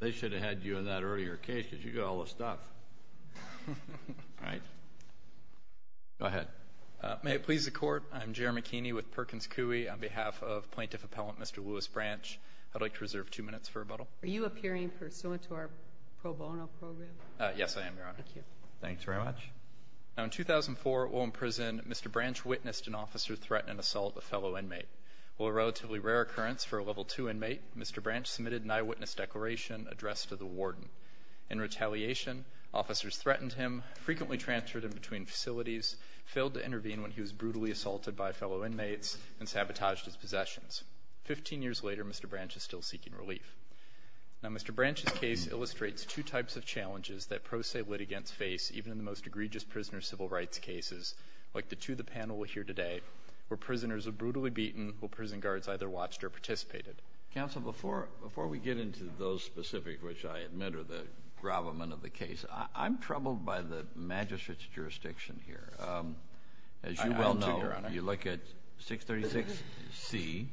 They should have had you in that earlier case, because you got all the stuff. All right. Go ahead. May it please the Court, I'm Jeremy Keeney with Perkins Coie. On behalf of Plaintiff Appellant Mr. Louis Branch, I'd like to reserve two minutes for rebuttal. Are you appearing pursuant to our pro bono program? Yes, I am, Your Honor. Thank you. Thanks very much. Now, in 2004, while in prison, Mr. Branch witnessed an officer threaten and assault a fellow inmate. While a relatively rare occurrence for a Level II inmate, Mr. Branch submitted an eyewitness declaration addressed to the warden. In retaliation, officers threatened him, frequently transferred him between facilities, failed to intervene when he was brutally assaulted by fellow inmates, and sabotaged his possessions. Fifteen years later, Mr. Branch is still seeking relief. Now, Mr. Branch's case illustrates two types of challenges that pro se litigants face, even in the most egregious prisoner civil rights cases, like the two the panel will hear today, where prisoners are brutally beaten while prison guards either watched or participated. Counsel, before we get into those specifics, which I admit are the gravamen of the case, I'm troubled by the magistrate's jurisdiction here. I am, too, Your Honor. As you well know, you look at 636C,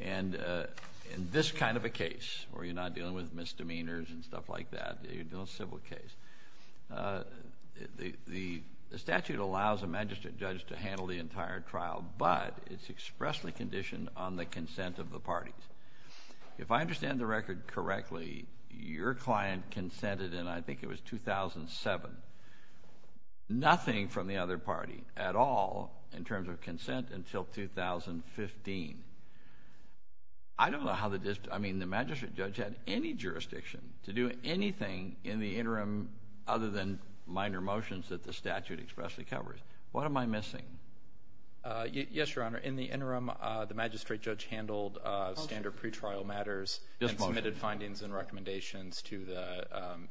and in this kind of a case where you're not dealing with misdemeanors and stuff like that, you're dealing with a civil case, the statute allows a magistrate judge to handle the entire trial, but it's expressly conditioned on the consent of the parties. If I understand the record correctly, your client consented in, I think it was 2007, nothing from the other party at all in terms of consent until 2015. I don't know how the magistrate judge had any jurisdiction to do anything in the interim other than minor motions that the statute expressly covers. What am I missing? Yes, Your Honor. In the interim, the magistrate judge handled standard pretrial matters and submitted findings and recommendations to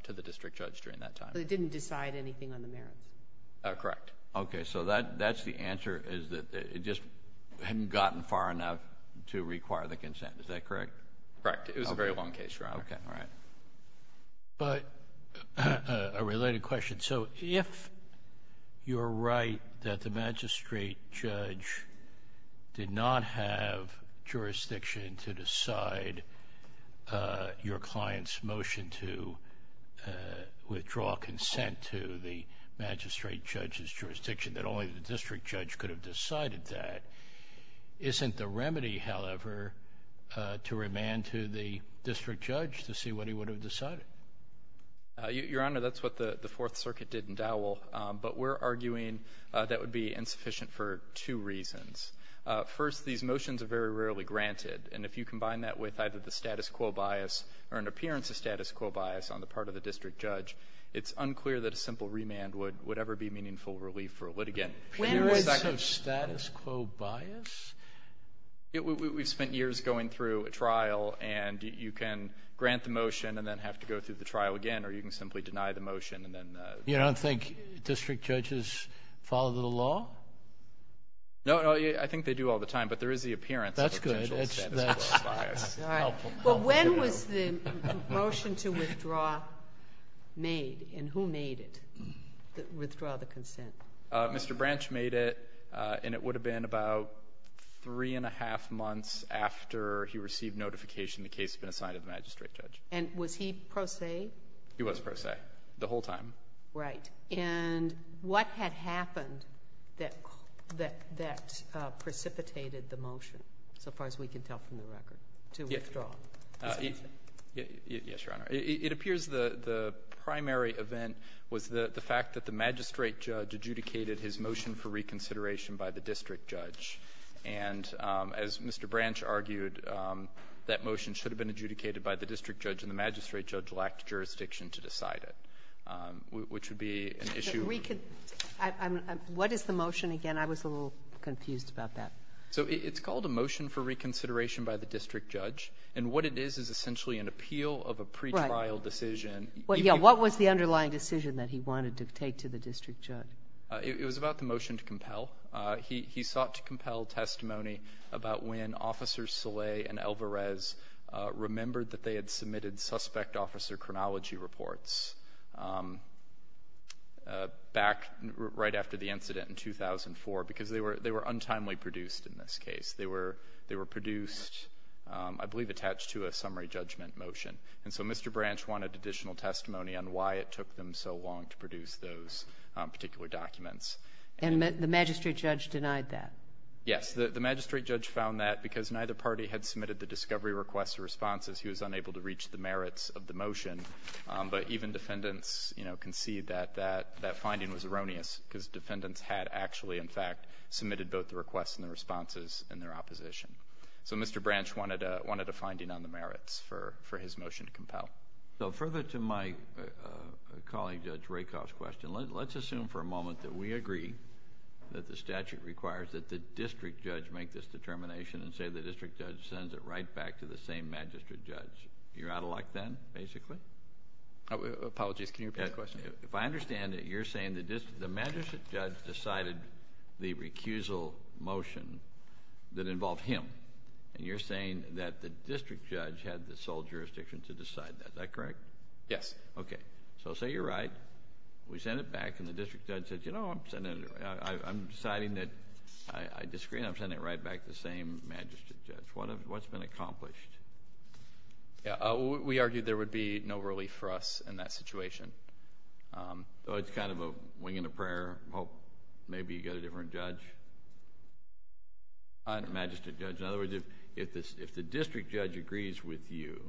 the district judge during that time. So they didn't decide anything on the merits. Correct. Okay. So that's the answer, is that it just hadn't gotten far enough to require the consent. Is that correct? Correct. It was a very long case, Your Honor. Okay. All right. But a related question, so if you're right that the magistrate judge did not have jurisdiction to decide your client's motion to withdraw consent to the magistrate judge's jurisdiction, that only the district judge could have decided that, isn't the remedy, however, to remand to the district judge to see what he would have decided? Your Honor, that's what the Fourth Circuit did in Dowell. But we're arguing that would be insufficient for two reasons. First, these motions are very rarely granted. And if you combine that with either the status quo bias or an appearance of status quo bias on the part of the district judge, it's unclear that a simple remand would ever be meaningful relief for a litigant. Appearance of status quo bias? We've spent years going through a trial, and you can grant the motion and then have to go through the trial again, or you can simply deny the motion and then the ---- You don't think district judges follow the law? No, no. I think they do all the time. But there is the appearance of potential status quo bias. That's good. That's helpful. Well, when was the motion to withdraw made, and who made it, withdraw the consent? Mr. Branch made it, and it would have been about three and a half months after he received notification the case had been assigned to the magistrate judge. And was he pro se? He was pro se the whole time. Right. And what had happened that precipitated the motion, so far as we can tell from the record, to withdraw the consent? Yes, Your Honor. It appears the primary event was the fact that the magistrate judge adjudicated his motion for reconsideration by the district judge. And as Mr. Branch argued, that motion should have been adjudicated by the district judge, and the magistrate judge lacked jurisdiction to decide it, which would be an issue ---- What is the motion again? I was a little confused about that. So it's called a motion for reconsideration by the district judge. And what it is is essentially an appeal of a pretrial decision. Right. Yeah. What was the underlying decision that he wanted to take to the district judge? It was about the motion to compel. He sought to compel testimony about when Officers Soleil and Alvarez remembered that they had submitted suspect officer chronology reports back right after the incident in 2004, because they were untimely produced in this case. They were produced, I believe, attached to a summary judgment motion. And so Mr. Branch wanted additional testimony on why it took them so long to produce those particular documents. And the magistrate judge denied that? Yes. The magistrate judge found that because neither party had submitted the discovery requests or responses, he was unable to reach the merits of the motion. But even defendants, you know, concede that that finding was erroneous, because defendants had actually, in fact, submitted both the requests and the responses in their opposition. So Mr. Branch wanted a finding on the merits for his motion to compel. So further to my colleague Judge Rakoff's question, let's assume for a moment that we agree that the statute requires that the district judge make this determination and say the district judge sends it right back to the same magistrate judge. You're out of luck then, basically? Apologies. Can you repeat the question? If I understand it, you're saying the magistrate judge decided the recusal motion that involved him, and you're saying that the district judge had the sole jurisdiction to decide that. Is that correct? Yes. Okay. So say you're right. We send it back, and the district judge says, you know, I'm deciding that I disagree, and I'm sending it right back to the same magistrate judge. What's been accomplished? We argue there would be no relief for us in that situation. So it's kind of a wing and a prayer, hope maybe you get a different judge? Magistrate judge. In other words, if the district judge agrees with you,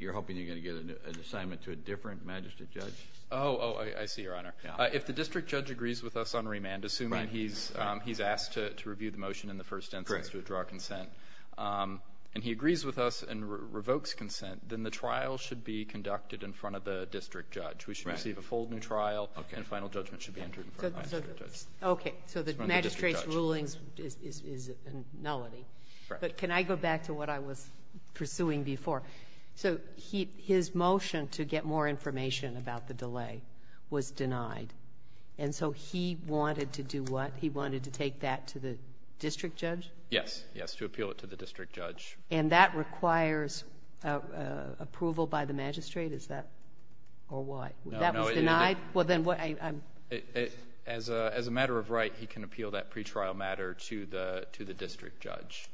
you're hoping you're going to get an assignment to a different magistrate judge? Oh, I see, Your Honor. If the district judge agrees with us on remand, assuming he's asked to review the motion in the first instance to withdraw consent, and he agrees with us and revokes consent, then the trial should be conducted in front of the district judge. We should receive a full new trial, and final judgment should be entered in front of the magistrate judge. Okay. So the magistrate's ruling is nullity. But can I go back to what I was pursuing before? So his motion to get more information about the delay was denied. And so he wanted to do what? He wanted to take that to the district judge? Yes, yes, to appeal it to the district judge. And that requires approval by the magistrate? Is that or what? That was denied? As a matter of right, he can appeal that pretrial matter to the district judge.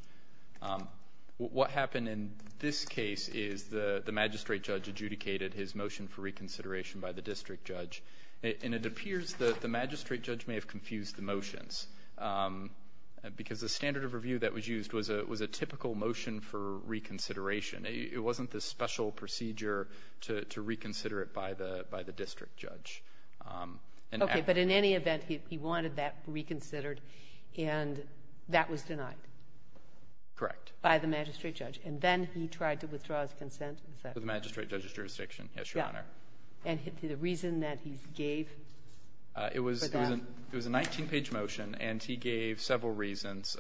What happened in this case is the magistrate judge adjudicated his motion for reconsideration by the district judge. And it appears that the magistrate judge may have confused the motions, because the standard of review that was used was a typical motion for reconsideration. It wasn't this special procedure to reconsider it by the district judge. Okay. But in any event, he wanted that reconsidered, and that was denied? Correct. By the magistrate judge. And then he tried to withdraw his consent? To the magistrate judge's jurisdiction, yes, Your Honor. Yeah. And the reason that he gave for that? It was a 19-page motion, and he gave several reasons.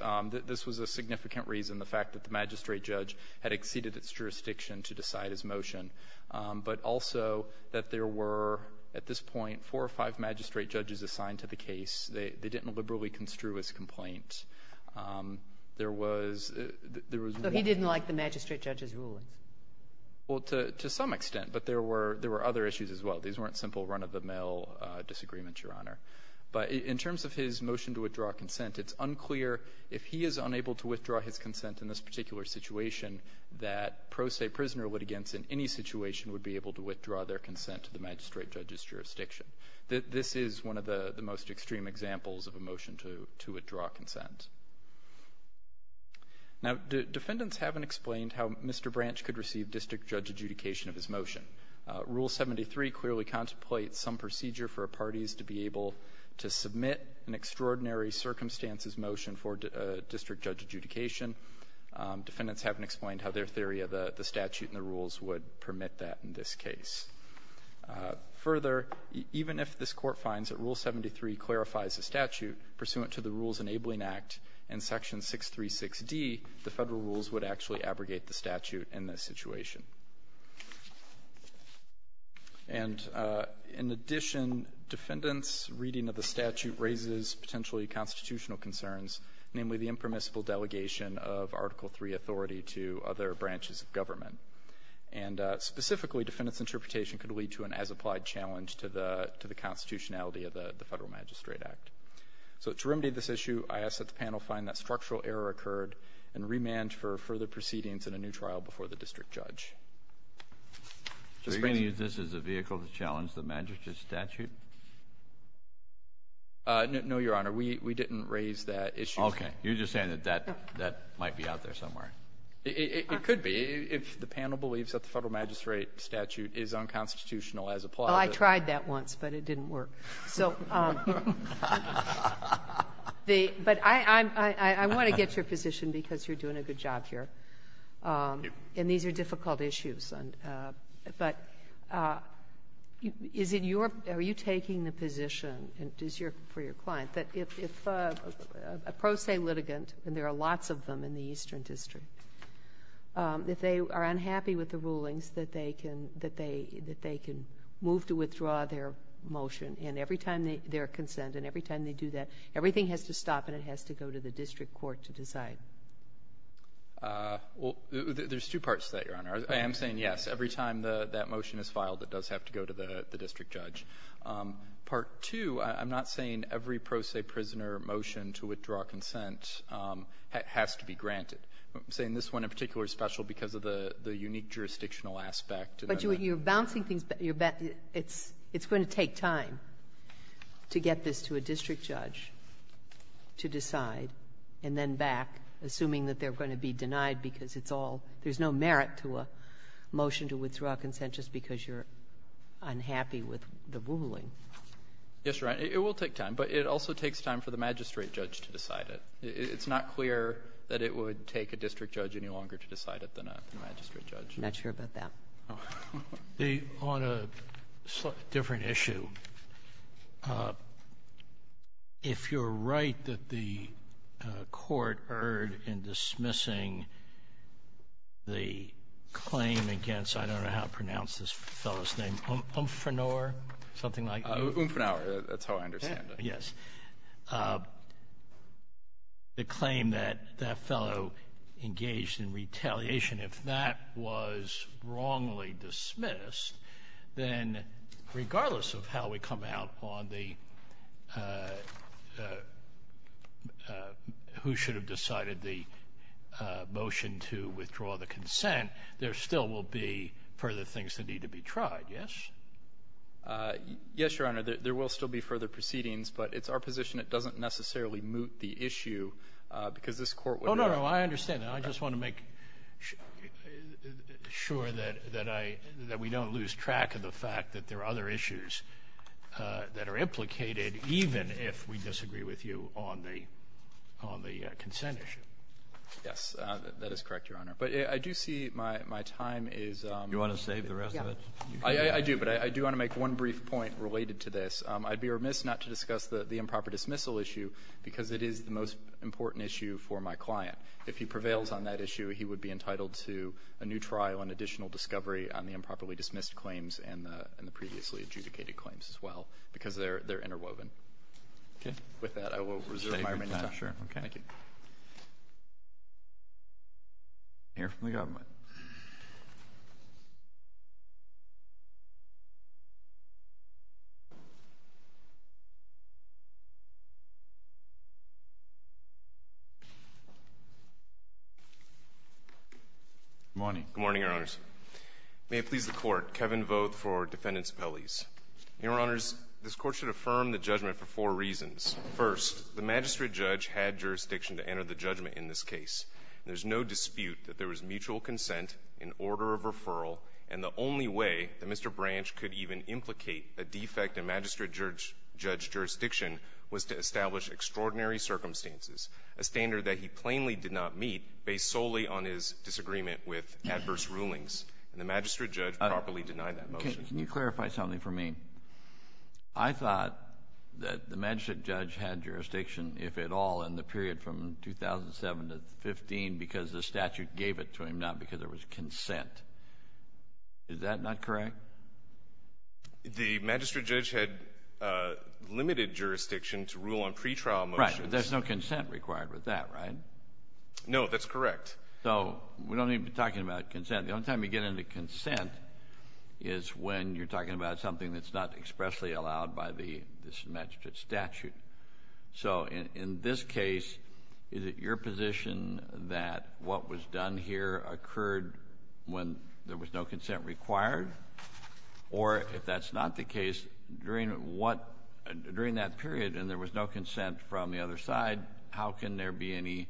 This was a significant reason, the fact that the magistrate judge had exceeded its jurisdiction to decide his motion. But also that there were, at this point, four or five magistrate judges assigned to the case. They didn't liberally construe his complaint. There was one thing. So he didn't like the magistrate judge's rulings? Well, to some extent. But there were other issues as well. These weren't simple run-of-the-mill disagreements, Your Honor. But in terms of his motion to withdraw consent, it's unclear if he is unable to withdraw his consent in this particular situation that pro se prisoner litigants in any situation would be able to withdraw their consent to the magistrate judge's jurisdiction. This is one of the most extreme examples of a motion to withdraw consent. Now, defendants haven't explained how Mr. Branch could receive district judge adjudication of his motion. Rule 73 clearly contemplates some procedure for parties to be able to submit an extraordinary circumstances motion for district judge adjudication. Defendants haven't explained how their theory of the statute and the rules would permit that in this case. Further, even if this Court finds that Rule 73 clarifies the statute pursuant to the Rules Enabling Act and Section 636D, the Federal rules would actually abrogate the statute in this situation. And in addition, defendants' reading of the statute raises potentially constant constitutional concerns, namely the impermissible delegation of Article III authority to other branches of government. And specifically, defendants' interpretation could lead to an as-applied challenge to the constitutionality of the Federal Magistrate Act. So to remedy this issue, I ask that the panel find that structural error occurred and remand for further proceedings in a new trial before the district judge. So you're going to use this as a vehicle to challenge the magistrate statute? No, Your Honor. We didn't raise that issue. Okay. You're just saying that that might be out there somewhere. It could be. If the panel believes that the Federal magistrate statute is unconstitutional as applied to it. Well, I tried that once, but it didn't work. But I want to get your position because you're doing a good job here. Thank you. These are difficult issues. But is it your or are you taking the position for your client that if a pro se litigant and there are lots of them in the Eastern District, if they are unhappy with the rulings that they can move to withdraw their motion and every time their consent and every time they do that, everything has to stop and it has to go to the district court to decide? Well, there's two parts to that, Your Honor. I am saying yes. Every time that motion is filed, it does have to go to the district judge. Part two, I'm not saying every pro se prisoner motion to withdraw consent has to be granted. I'm saying this one in particular is special because of the unique jurisdictional aspect. But you're bouncing things back. It's going to take time to get this to a district judge to decide, and then back assuming that they're going to be denied because it's all — there's no merit to a motion to withdraw consent just because you're unhappy with the ruling. Yes, Your Honor. It will take time. But it also takes time for the magistrate judge to decide it. It's not clear that it would take a district judge any longer to decide it than a magistrate judge. I'm not sure about that. On a different issue, if you're right that the court erred in dismissing the claim against, I don't know how to pronounce this fellow's name, Umfrenor, something like that? Umfrenor, that's how I understand it. Yes. The claim that that fellow engaged in retaliation, if that was wrongly dismissed, then regardless of how we come out on the — who should have decided the motion to withdraw the consent, there still will be further things that need to be tried, yes? Yes, Your Honor. There will still be further proceedings, but it's our position it doesn't necessarily moot the issue because this Court would err. Oh, no, no. I understand that. And I just want to make sure that I — that we don't lose track of the fact that there are other issues that are implicated, even if we disagree with you on the — on the consent issue. Yes. That is correct, Your Honor. But I do see my time is — Do you want to save the rest of it? I do, but I do want to make one brief point related to this. I'd be remiss not to discuss the improper dismissal issue because it is the most important issue for my client. If he prevails on that issue, he would be entitled to a new trial and additional discovery on the improperly dismissed claims and the previously adjudicated claims as well because they're interwoven. Okay. With that, I will reserve my remaining time. Sure. Okay. Thank you. May it please the Court, Kevin Voth for Defendant's Appellees. Your Honors, this Court should affirm the judgment for four reasons. First, the magistrate judge had jurisdiction to enter the judgment in this case. There's no dispute that there was mutual consent, an order of referral, and the only way that Mr. Branch could even implicate a defect in magistrate judge jurisdiction was to establish extraordinary circumstances, a standard that he plainly did not meet based solely on his disagreement with adverse rulings. And the magistrate judge properly denied that motion. Your Honor, can you clarify something for me? I thought that the magistrate judge had jurisdiction, if at all, in the period from 2007 to 2015 because the statute gave it to him, not because there was consent. Is that not correct? The magistrate judge had limited jurisdiction to rule on pretrial motions. Right. There's no consent required with that, right? No, that's correct. So we don't need to be talking about consent. The only time you get into consent is when you're talking about something that's not expressly allowed by this magistrate statute. So in this case, is it your position that what was done here occurred when there was no consent required? Or if that's not the case, during that period and there was no consent from the other side, how can there be any,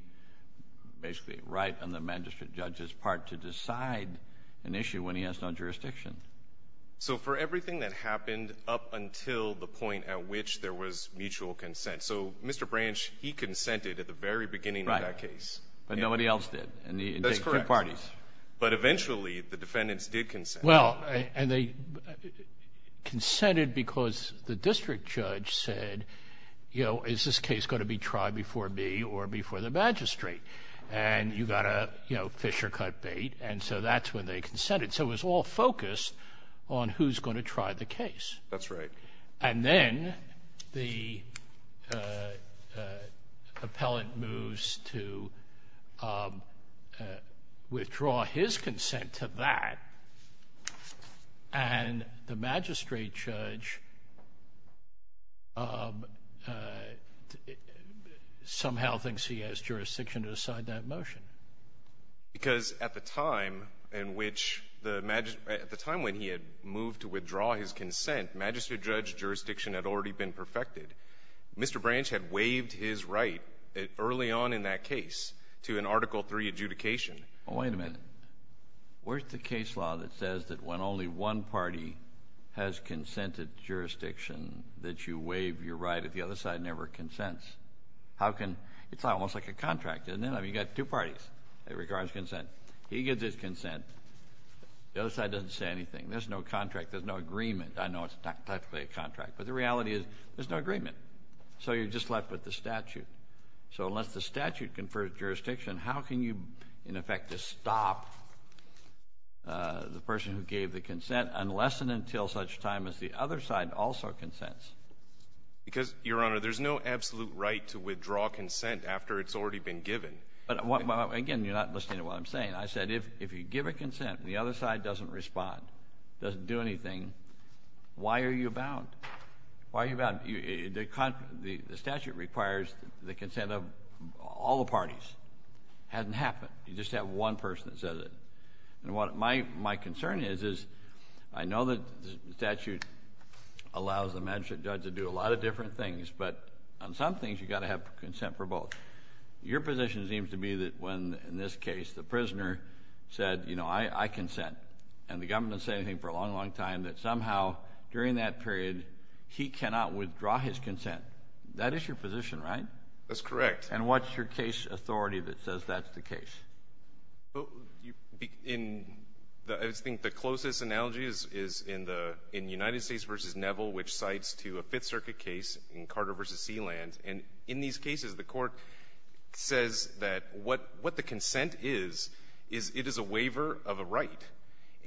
basically, right on the magistrate judge's part to decide an issue when he has no jurisdiction? So for everything that happened up until the point at which there was mutual consent so Mr. Branch, he consented at the very beginning of that case. Right. But nobody else did. That's correct. And he engaged two parties. But eventually, the defendants did consent. Well, and they consented because the district judge said, you know, is this case going to be tried before me or before the magistrate? And you've got to, you know, fish or cut bait. And so that's when they consented. So it was all focused on who's going to try the case. That's right. And then the appellant moves to withdraw his consent to that, and the magistrate judge somehow thinks he has jurisdiction to decide that motion. Because at the time in which the maj — at the time when he had moved to withdraw his consent, magistrate judge jurisdiction had already been perfected. Mr. Branch had waived his right early on in that case to an Article III adjudication. Well, wait a minute. Where's the case law that says that when only one party has consented jurisdiction that you waive your right if the other side never consents? How can — it's almost like a contract, isn't it? I mean, you've got two parties. It requires consent. He gives his consent. The other side doesn't say anything. There's no contract. There's no agreement. I know it's not technically a contract, but the reality is there's no agreement. So you're just left with the statute. So unless the statute confers jurisdiction, how can you, in effect, stop the person who gave the consent unless and until such time as the other side also consents? Because, Your Honor, there's no absolute right to withdraw consent after it's already been given. Well, again, you're not listening to what I'm saying. I said if you give a consent and the other side doesn't respond, doesn't do anything, why are you bound? Why are you bound? The statute requires the consent of all the parties. It hasn't happened. You just have one person that says it. And what my concern is is I know that the statute allows the magistrate judge to do a lot of different things, but on some things you've got to have consent for both. Your position seems to be that when, in this case, the prisoner said, you know, I consent, and the government has said anything for a long, long time, that somehow during that period he cannot withdraw his consent. That is your position, right? That's correct. And what's your case authority that says that's the case? In the – I think the closest analogy is in the – in United States v. Neville, And in these cases, the Court says that what the consent is, is it is a waiver of a right.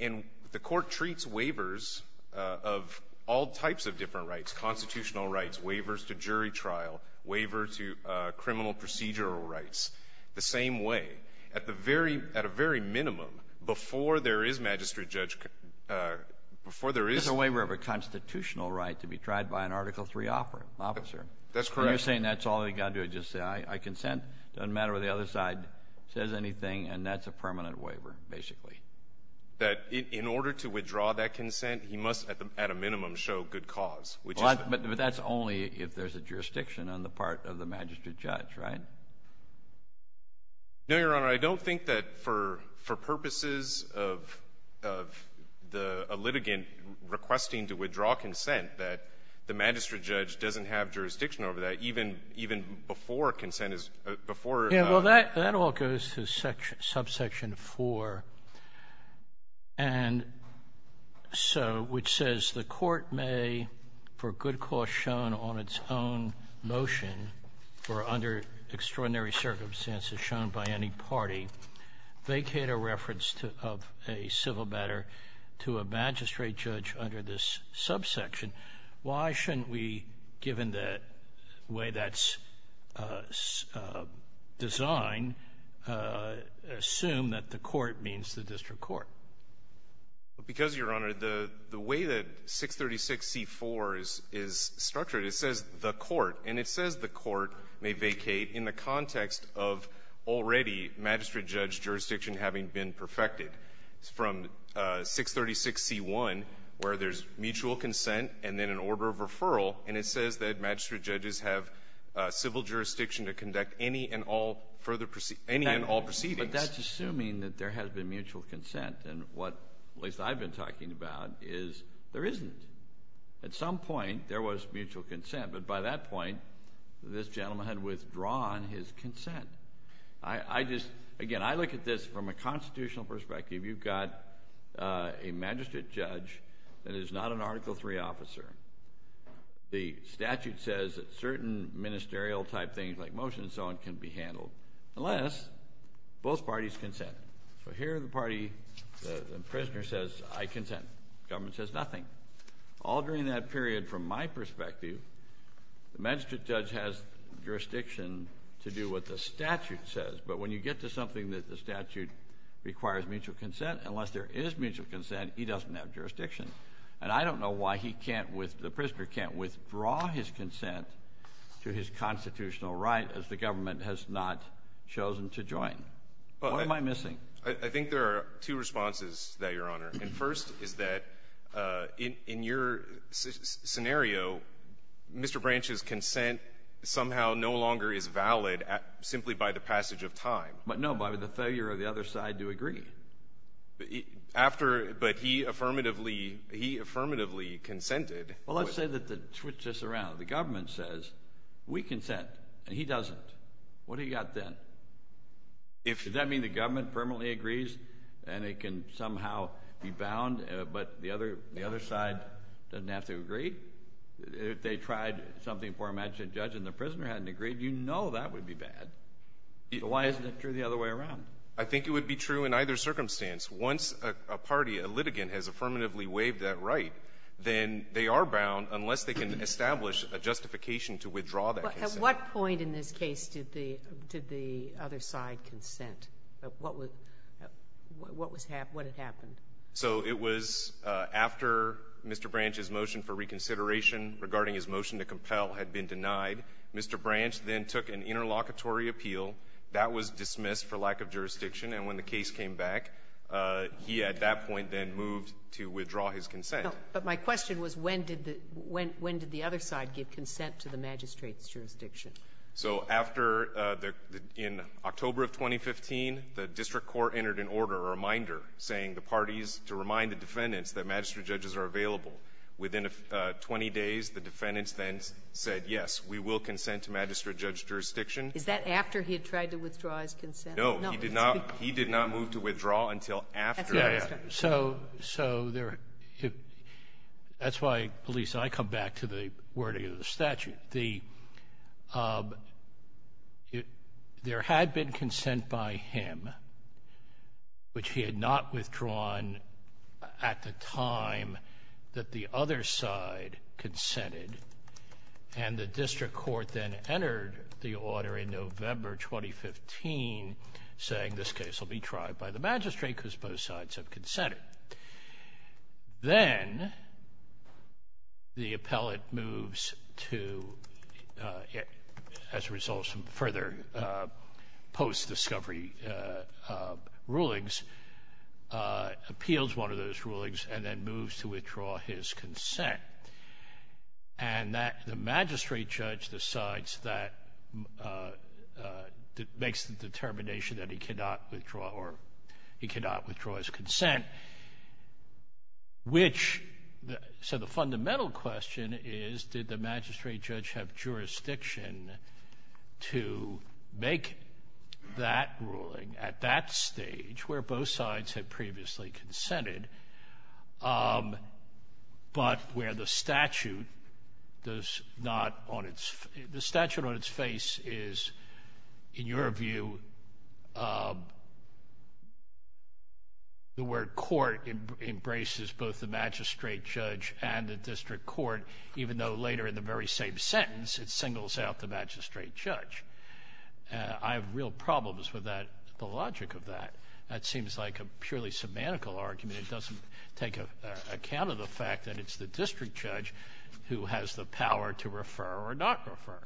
And the Court treats waivers of all types of different rights, constitutional rights, waivers to jury trial, waiver to criminal procedural rights, the same way. At the very – at a very minimum, before there is magistrate judge – before there is – It's a waiver of a constitutional right to be tried by an Article III officer. That's correct. You're saying that's all they've got to do is just say, I consent. It doesn't matter what the other side says anything, and that's a permanent waiver, basically. That in order to withdraw that consent, he must, at a minimum, show good cause, which is the – But that's only if there's a jurisdiction on the part of the magistrate judge, right? No, Your Honor. I don't think that for purposes of the litigant requesting to withdraw consent that the magistrate judge doesn't have jurisdiction over that, even – even before consent is – before the – Well, that all goes to subsection 4, and so – which says, the Court may, for good cause shown on its own motion, or under extraordinary circumstances shown by any party, vacate a reference to – of a civil matter to a magistrate judge under this subsection Why shouldn't we, given the way that's designed, assume that the court means the district court? Because, Your Honor, the – the way that 636c-4 is – is structured, it says the court, and it says the court may vacate in the context of already magistrate judge jurisdiction having been perfected. It's from 636c-1 where there's mutual consent and then an order of referral, and it says that magistrate judges have civil jurisdiction to conduct any and all further – any and all proceedings. But that's assuming that there has been mutual consent, and what – at least I've been talking about is, there isn't. At some point, there was mutual consent, but by that point, this gentleman had withdrawn his consent. I – I just – again, I look at this from a constitutional perspective. You've got a magistrate judge that is not an Article III officer. The statute says that certain ministerial-type things like motion and so on can be handled unless both parties consent. So here, the party – the prisoner says, I consent. Government says nothing. All during that period, from my perspective, the magistrate judge has jurisdiction to do what the statute says, but when you get to something that the statute requires mutual consent, unless there is mutual consent, he doesn't have jurisdiction. And I don't know why he can't – the prisoner can't withdraw his consent to his constitutional right as the government has not chosen to join. What am I missing? I think there are two responses to that, Your Honor. And first is that in – in your scenario, Mr. Branch's consent somehow no longer is valid simply by the passage of time. But no, Bobby, the failure of the other side to agree. After – but he affirmatively – he affirmatively consented. Well, let's say that the – switch this around. The government says, we consent, and he doesn't. What do you got then? If – Does that mean the government permanently agrees and it can somehow be bound, but the other – the other side doesn't have to agree? If they tried something before a magistrate judge and the prisoner hadn't agreed, you know that would be bad. Why isn't that true the other way around? I think it would be true in either circumstance. Once a party, a litigant, has affirmatively waived that right, then they are bound, unless they can establish a justification to withdraw that consent. But at what point in this case did the – did the other side consent? What was – what was – what had happened? So it was after Mr. Branch's motion for reconsideration regarding his motion to compel had been denied. Mr. Branch then took an interlocutory appeal. That was dismissed for lack of jurisdiction. And when the case came back, he at that point then moved to withdraw his consent. But my question was when did the – when did the other side give consent to the magistrate's jurisdiction? So after the – in October of 2015, the district court entered an order, a reminder, saying the parties to remind the defendants that magistrate judges are available. Within 20 days, the defendants then said, yes, we will consent to magistrate judge's jurisdiction. Is that after he had tried to withdraw his consent? No. No. He did not – he did not move to withdraw until after that. So – so there – that's why, Elisa, I come back to the wording of the statute. The – there had been consent by him, which he had not withdrawn at the time that the other side consented, and the district court then entered the order in November 2015 saying this case will be tried by the magistrate because both sides have consented. Then the appellate moves to, as a result of some further post-discovery rulings, appeals one of those rulings and then moves to withdraw his consent. And that the magistrate judge decides that – makes the determination that he cannot withdraw or he cannot withdraw his consent, which – so the fundamental question is, did the magistrate judge have jurisdiction to make that ruling at that stage, where both sides had previously consented, but where the statute does not on its – the statute on its face is, in your view, the word court embraces both the magistrate judge and the district court, even though later in the very same sentence, it singles out the magistrate judge. I have real problems with that – the logic of that. That seems like a purely semantical argument. It doesn't take account of the fact that it's the district judge who has the power to refer or not refer.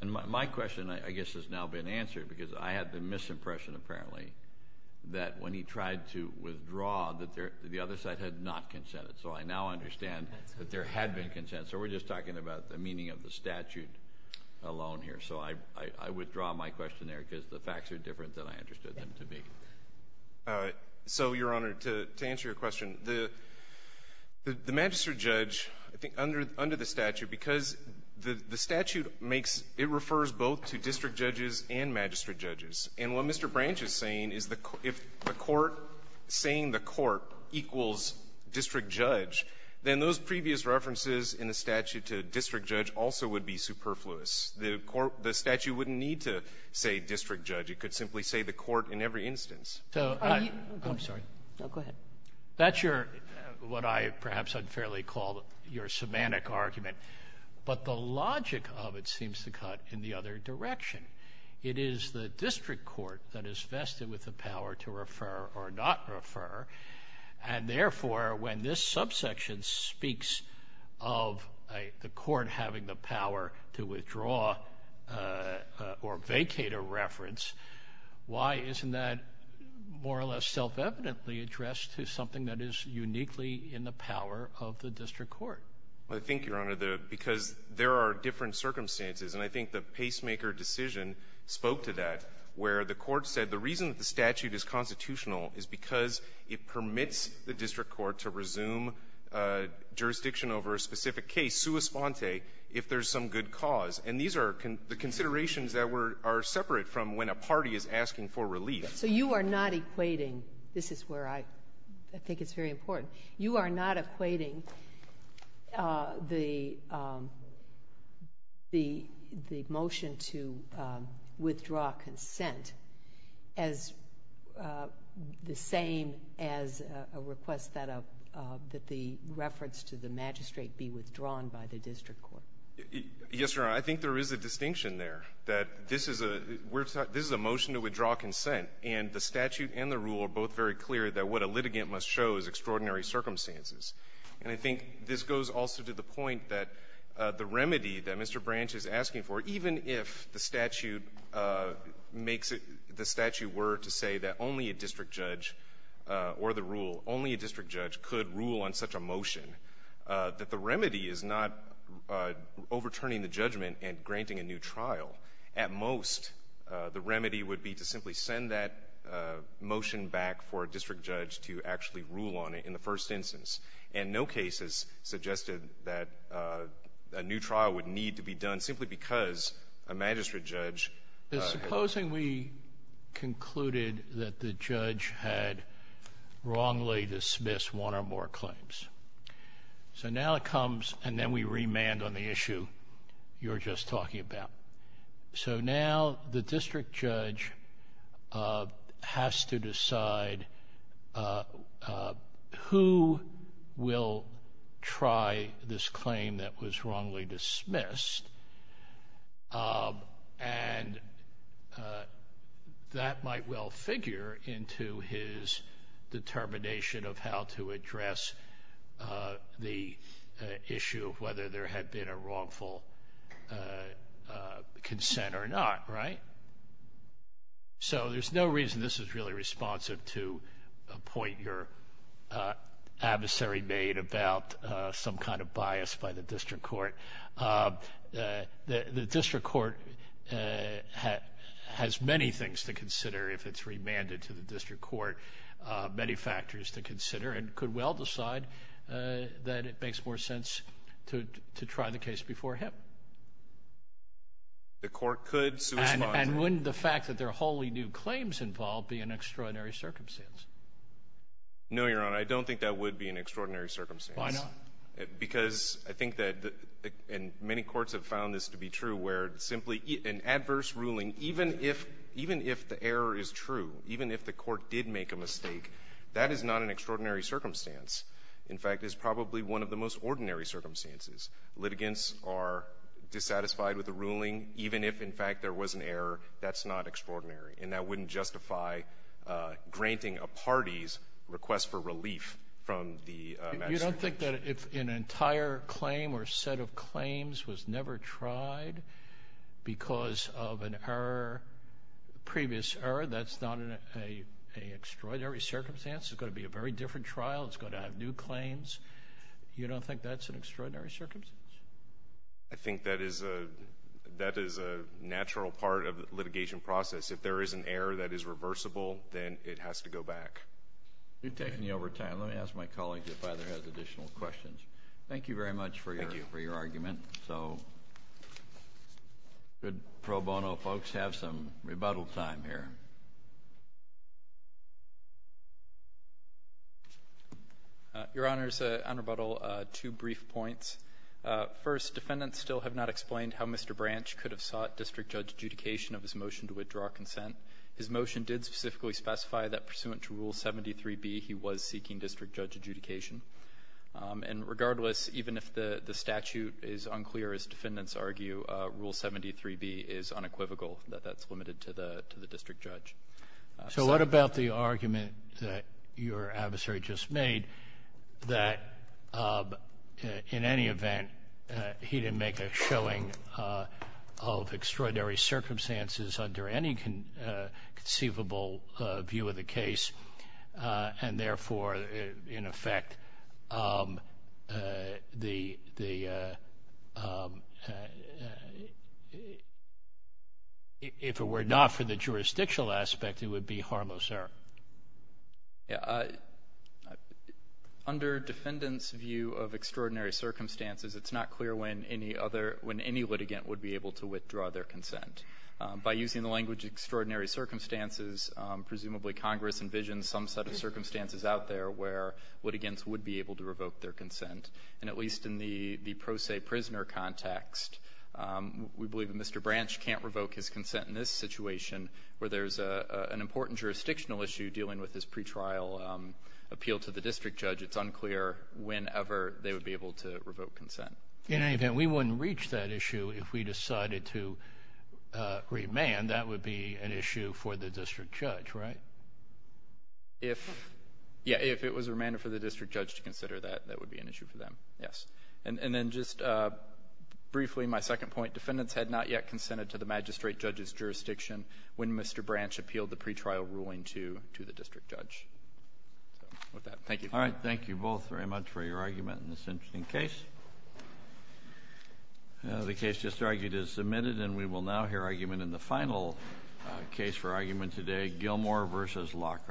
And my question, I guess, has now been answered because I had the misimpression, apparently, that when he tried to withdraw, that the other side had not consented. So I now understand that there had been consent. So we're just talking about the meaning of the statute alone here. So I withdraw my question there because the facts are different than I understood them to be. All right. So, Your Honor, to answer your question, the magistrate judge, I think under the statute, because the statute makes – it refers both to district judges and magistrate judges. And what Mr. Branch is saying is if the court – saying the court equals district judge, then those previous references in the statute to district judge also would be superfluous. The statute wouldn't need to say district judge. It could simply say the court in every instance. So I'm sorry. Go ahead. That's your – what I perhaps unfairly call your semantic argument. But the logic of it seems to cut in the other direction. It is the district court that is vested with the power to refer or not refer. And, therefore, when this subsection speaks of the court having the power to withdraw or vacate a reference, why isn't that more or less self-evidently addressed to something that is uniquely in the power of the district court? I think, Your Honor, the – because there are different circumstances, and I think the pacemaker decision spoke to that, where the court said the reason that the statute is constitutional is because it permits the district court to resume jurisdiction over a specific case sua sponte if there's some good cause. And these are the considerations that were – are separate from when a party is asking for relief. So you are not equating – this is where I think it's very important – you are not equating the motion to withdraw consent as the same as a request that a – that the reference to the magistrate be withdrawn by the district court. Yes, Your Honor. I think there is a distinction there, that this is a – we're – this is a motion to withdraw consent. And the statute and the rule are both very clear that what a litigant must show is And I think this goes also to the point that the remedy that Mr. Branch is asking for, even if the statute makes it – the statute were to say that only a district judge or the rule – only a district judge could rule on such a motion, that the remedy is not overturning the judgment and granting a new trial. At most, the remedy would be to simply send that motion back for a district judge to actually rule on it in the first instance. And no case has suggested that a new trial would need to be done simply because a magistrate judge – But supposing we concluded that the judge had wrongly dismissed one or more claims. So now it comes, and then we remand on the issue you were just talking about. So now the district judge has to decide who will try this claim that was wrongly dismissed. And that might well figure into his determination of how to address the issue of whether there had been a wrongful consent or not, right? So there's no reason this is really responsive to a point your adversary made about some kind of bias by the district court. The district court has many things to consider if it's remanded to the district court, many factors to consider, and could well decide that it makes more sense to try the case before him. The court could suspend it. And wouldn't the fact that there are wholly new claims involved be an extraordinary circumstance? No, Your Honor. I don't think that would be an extraordinary circumstance. Why not? Because I think that the – and many courts have found this to be true, where simply an adverse ruling, even if the error is true, even if the court did make a mistake, that is not an extraordinary circumstance. In fact, it's probably one of the most ordinary circumstances. Litigants are dissatisfied with the ruling, even if, in fact, there was an error. That's not extraordinary. And that wouldn't justify granting a party's request for relief from the magistrate. You don't think that if an entire claim or set of claims was never tried because of an error, previous error, that's not an extraordinary circumstance? It's going to be a very different trial. It's going to have new claims. You don't think that's an extraordinary circumstance? I think that is a – that is a natural part of the litigation process. If there is an error that is reversible, then it has to go back. You're taking me over time. Let me ask my colleague if either has additional questions. Thank you very much for your argument. Thank you. So should pro bono folks have some rebuttal time here? Your Honors, on rebuttal, two brief points. First, defendants still have not explained how Mr. Branch could have sought district judge adjudication of his motion to withdraw consent. His motion did specifically specify that pursuant to Rule 73b, he was seeking district judge adjudication. And regardless, even if the statute is unclear, as defendants argue, Rule 73b is unequivocal, that that's limited to the district judge. So what about the argument that your adversary just made that in any event, he didn't make a showing of extraordinary circumstances under any conceivable view of the case, and therefore, in effect, the – if it were not for the jurisdictional aspect, it would be harmless error? Yeah. Under defendants' view of extraordinary circumstances, it's not clear when any other – when any litigant would be able to withdraw their consent. By using the language extraordinary circumstances, presumably Congress envisions some set of circumstances out there where litigants would be able to revoke their consent. And at least in the pro se prisoner context, we believe that Mr. Branch can't revoke his consent in this situation where there's an important jurisdictional issue dealing with his pretrial appeal to the district judge. It's unclear whenever they would be able to revoke consent. In any event, we wouldn't reach that issue if we decided to remand. That would be an issue for the district judge, right? If – yeah. If it was remanded for the district judge to consider that, that would be an issue for them, yes. And then just briefly, my second point. Defendants had not yet consented to the magistrate judge's jurisdiction when Mr. Branch appealed the pretrial ruling to the district judge. So with that, thank you. All right. Thank you both very much for your argument in this interesting case. The case just argued is submitted, and we will now hear argument in the final case for argument today, Gilmore v. Lockhart.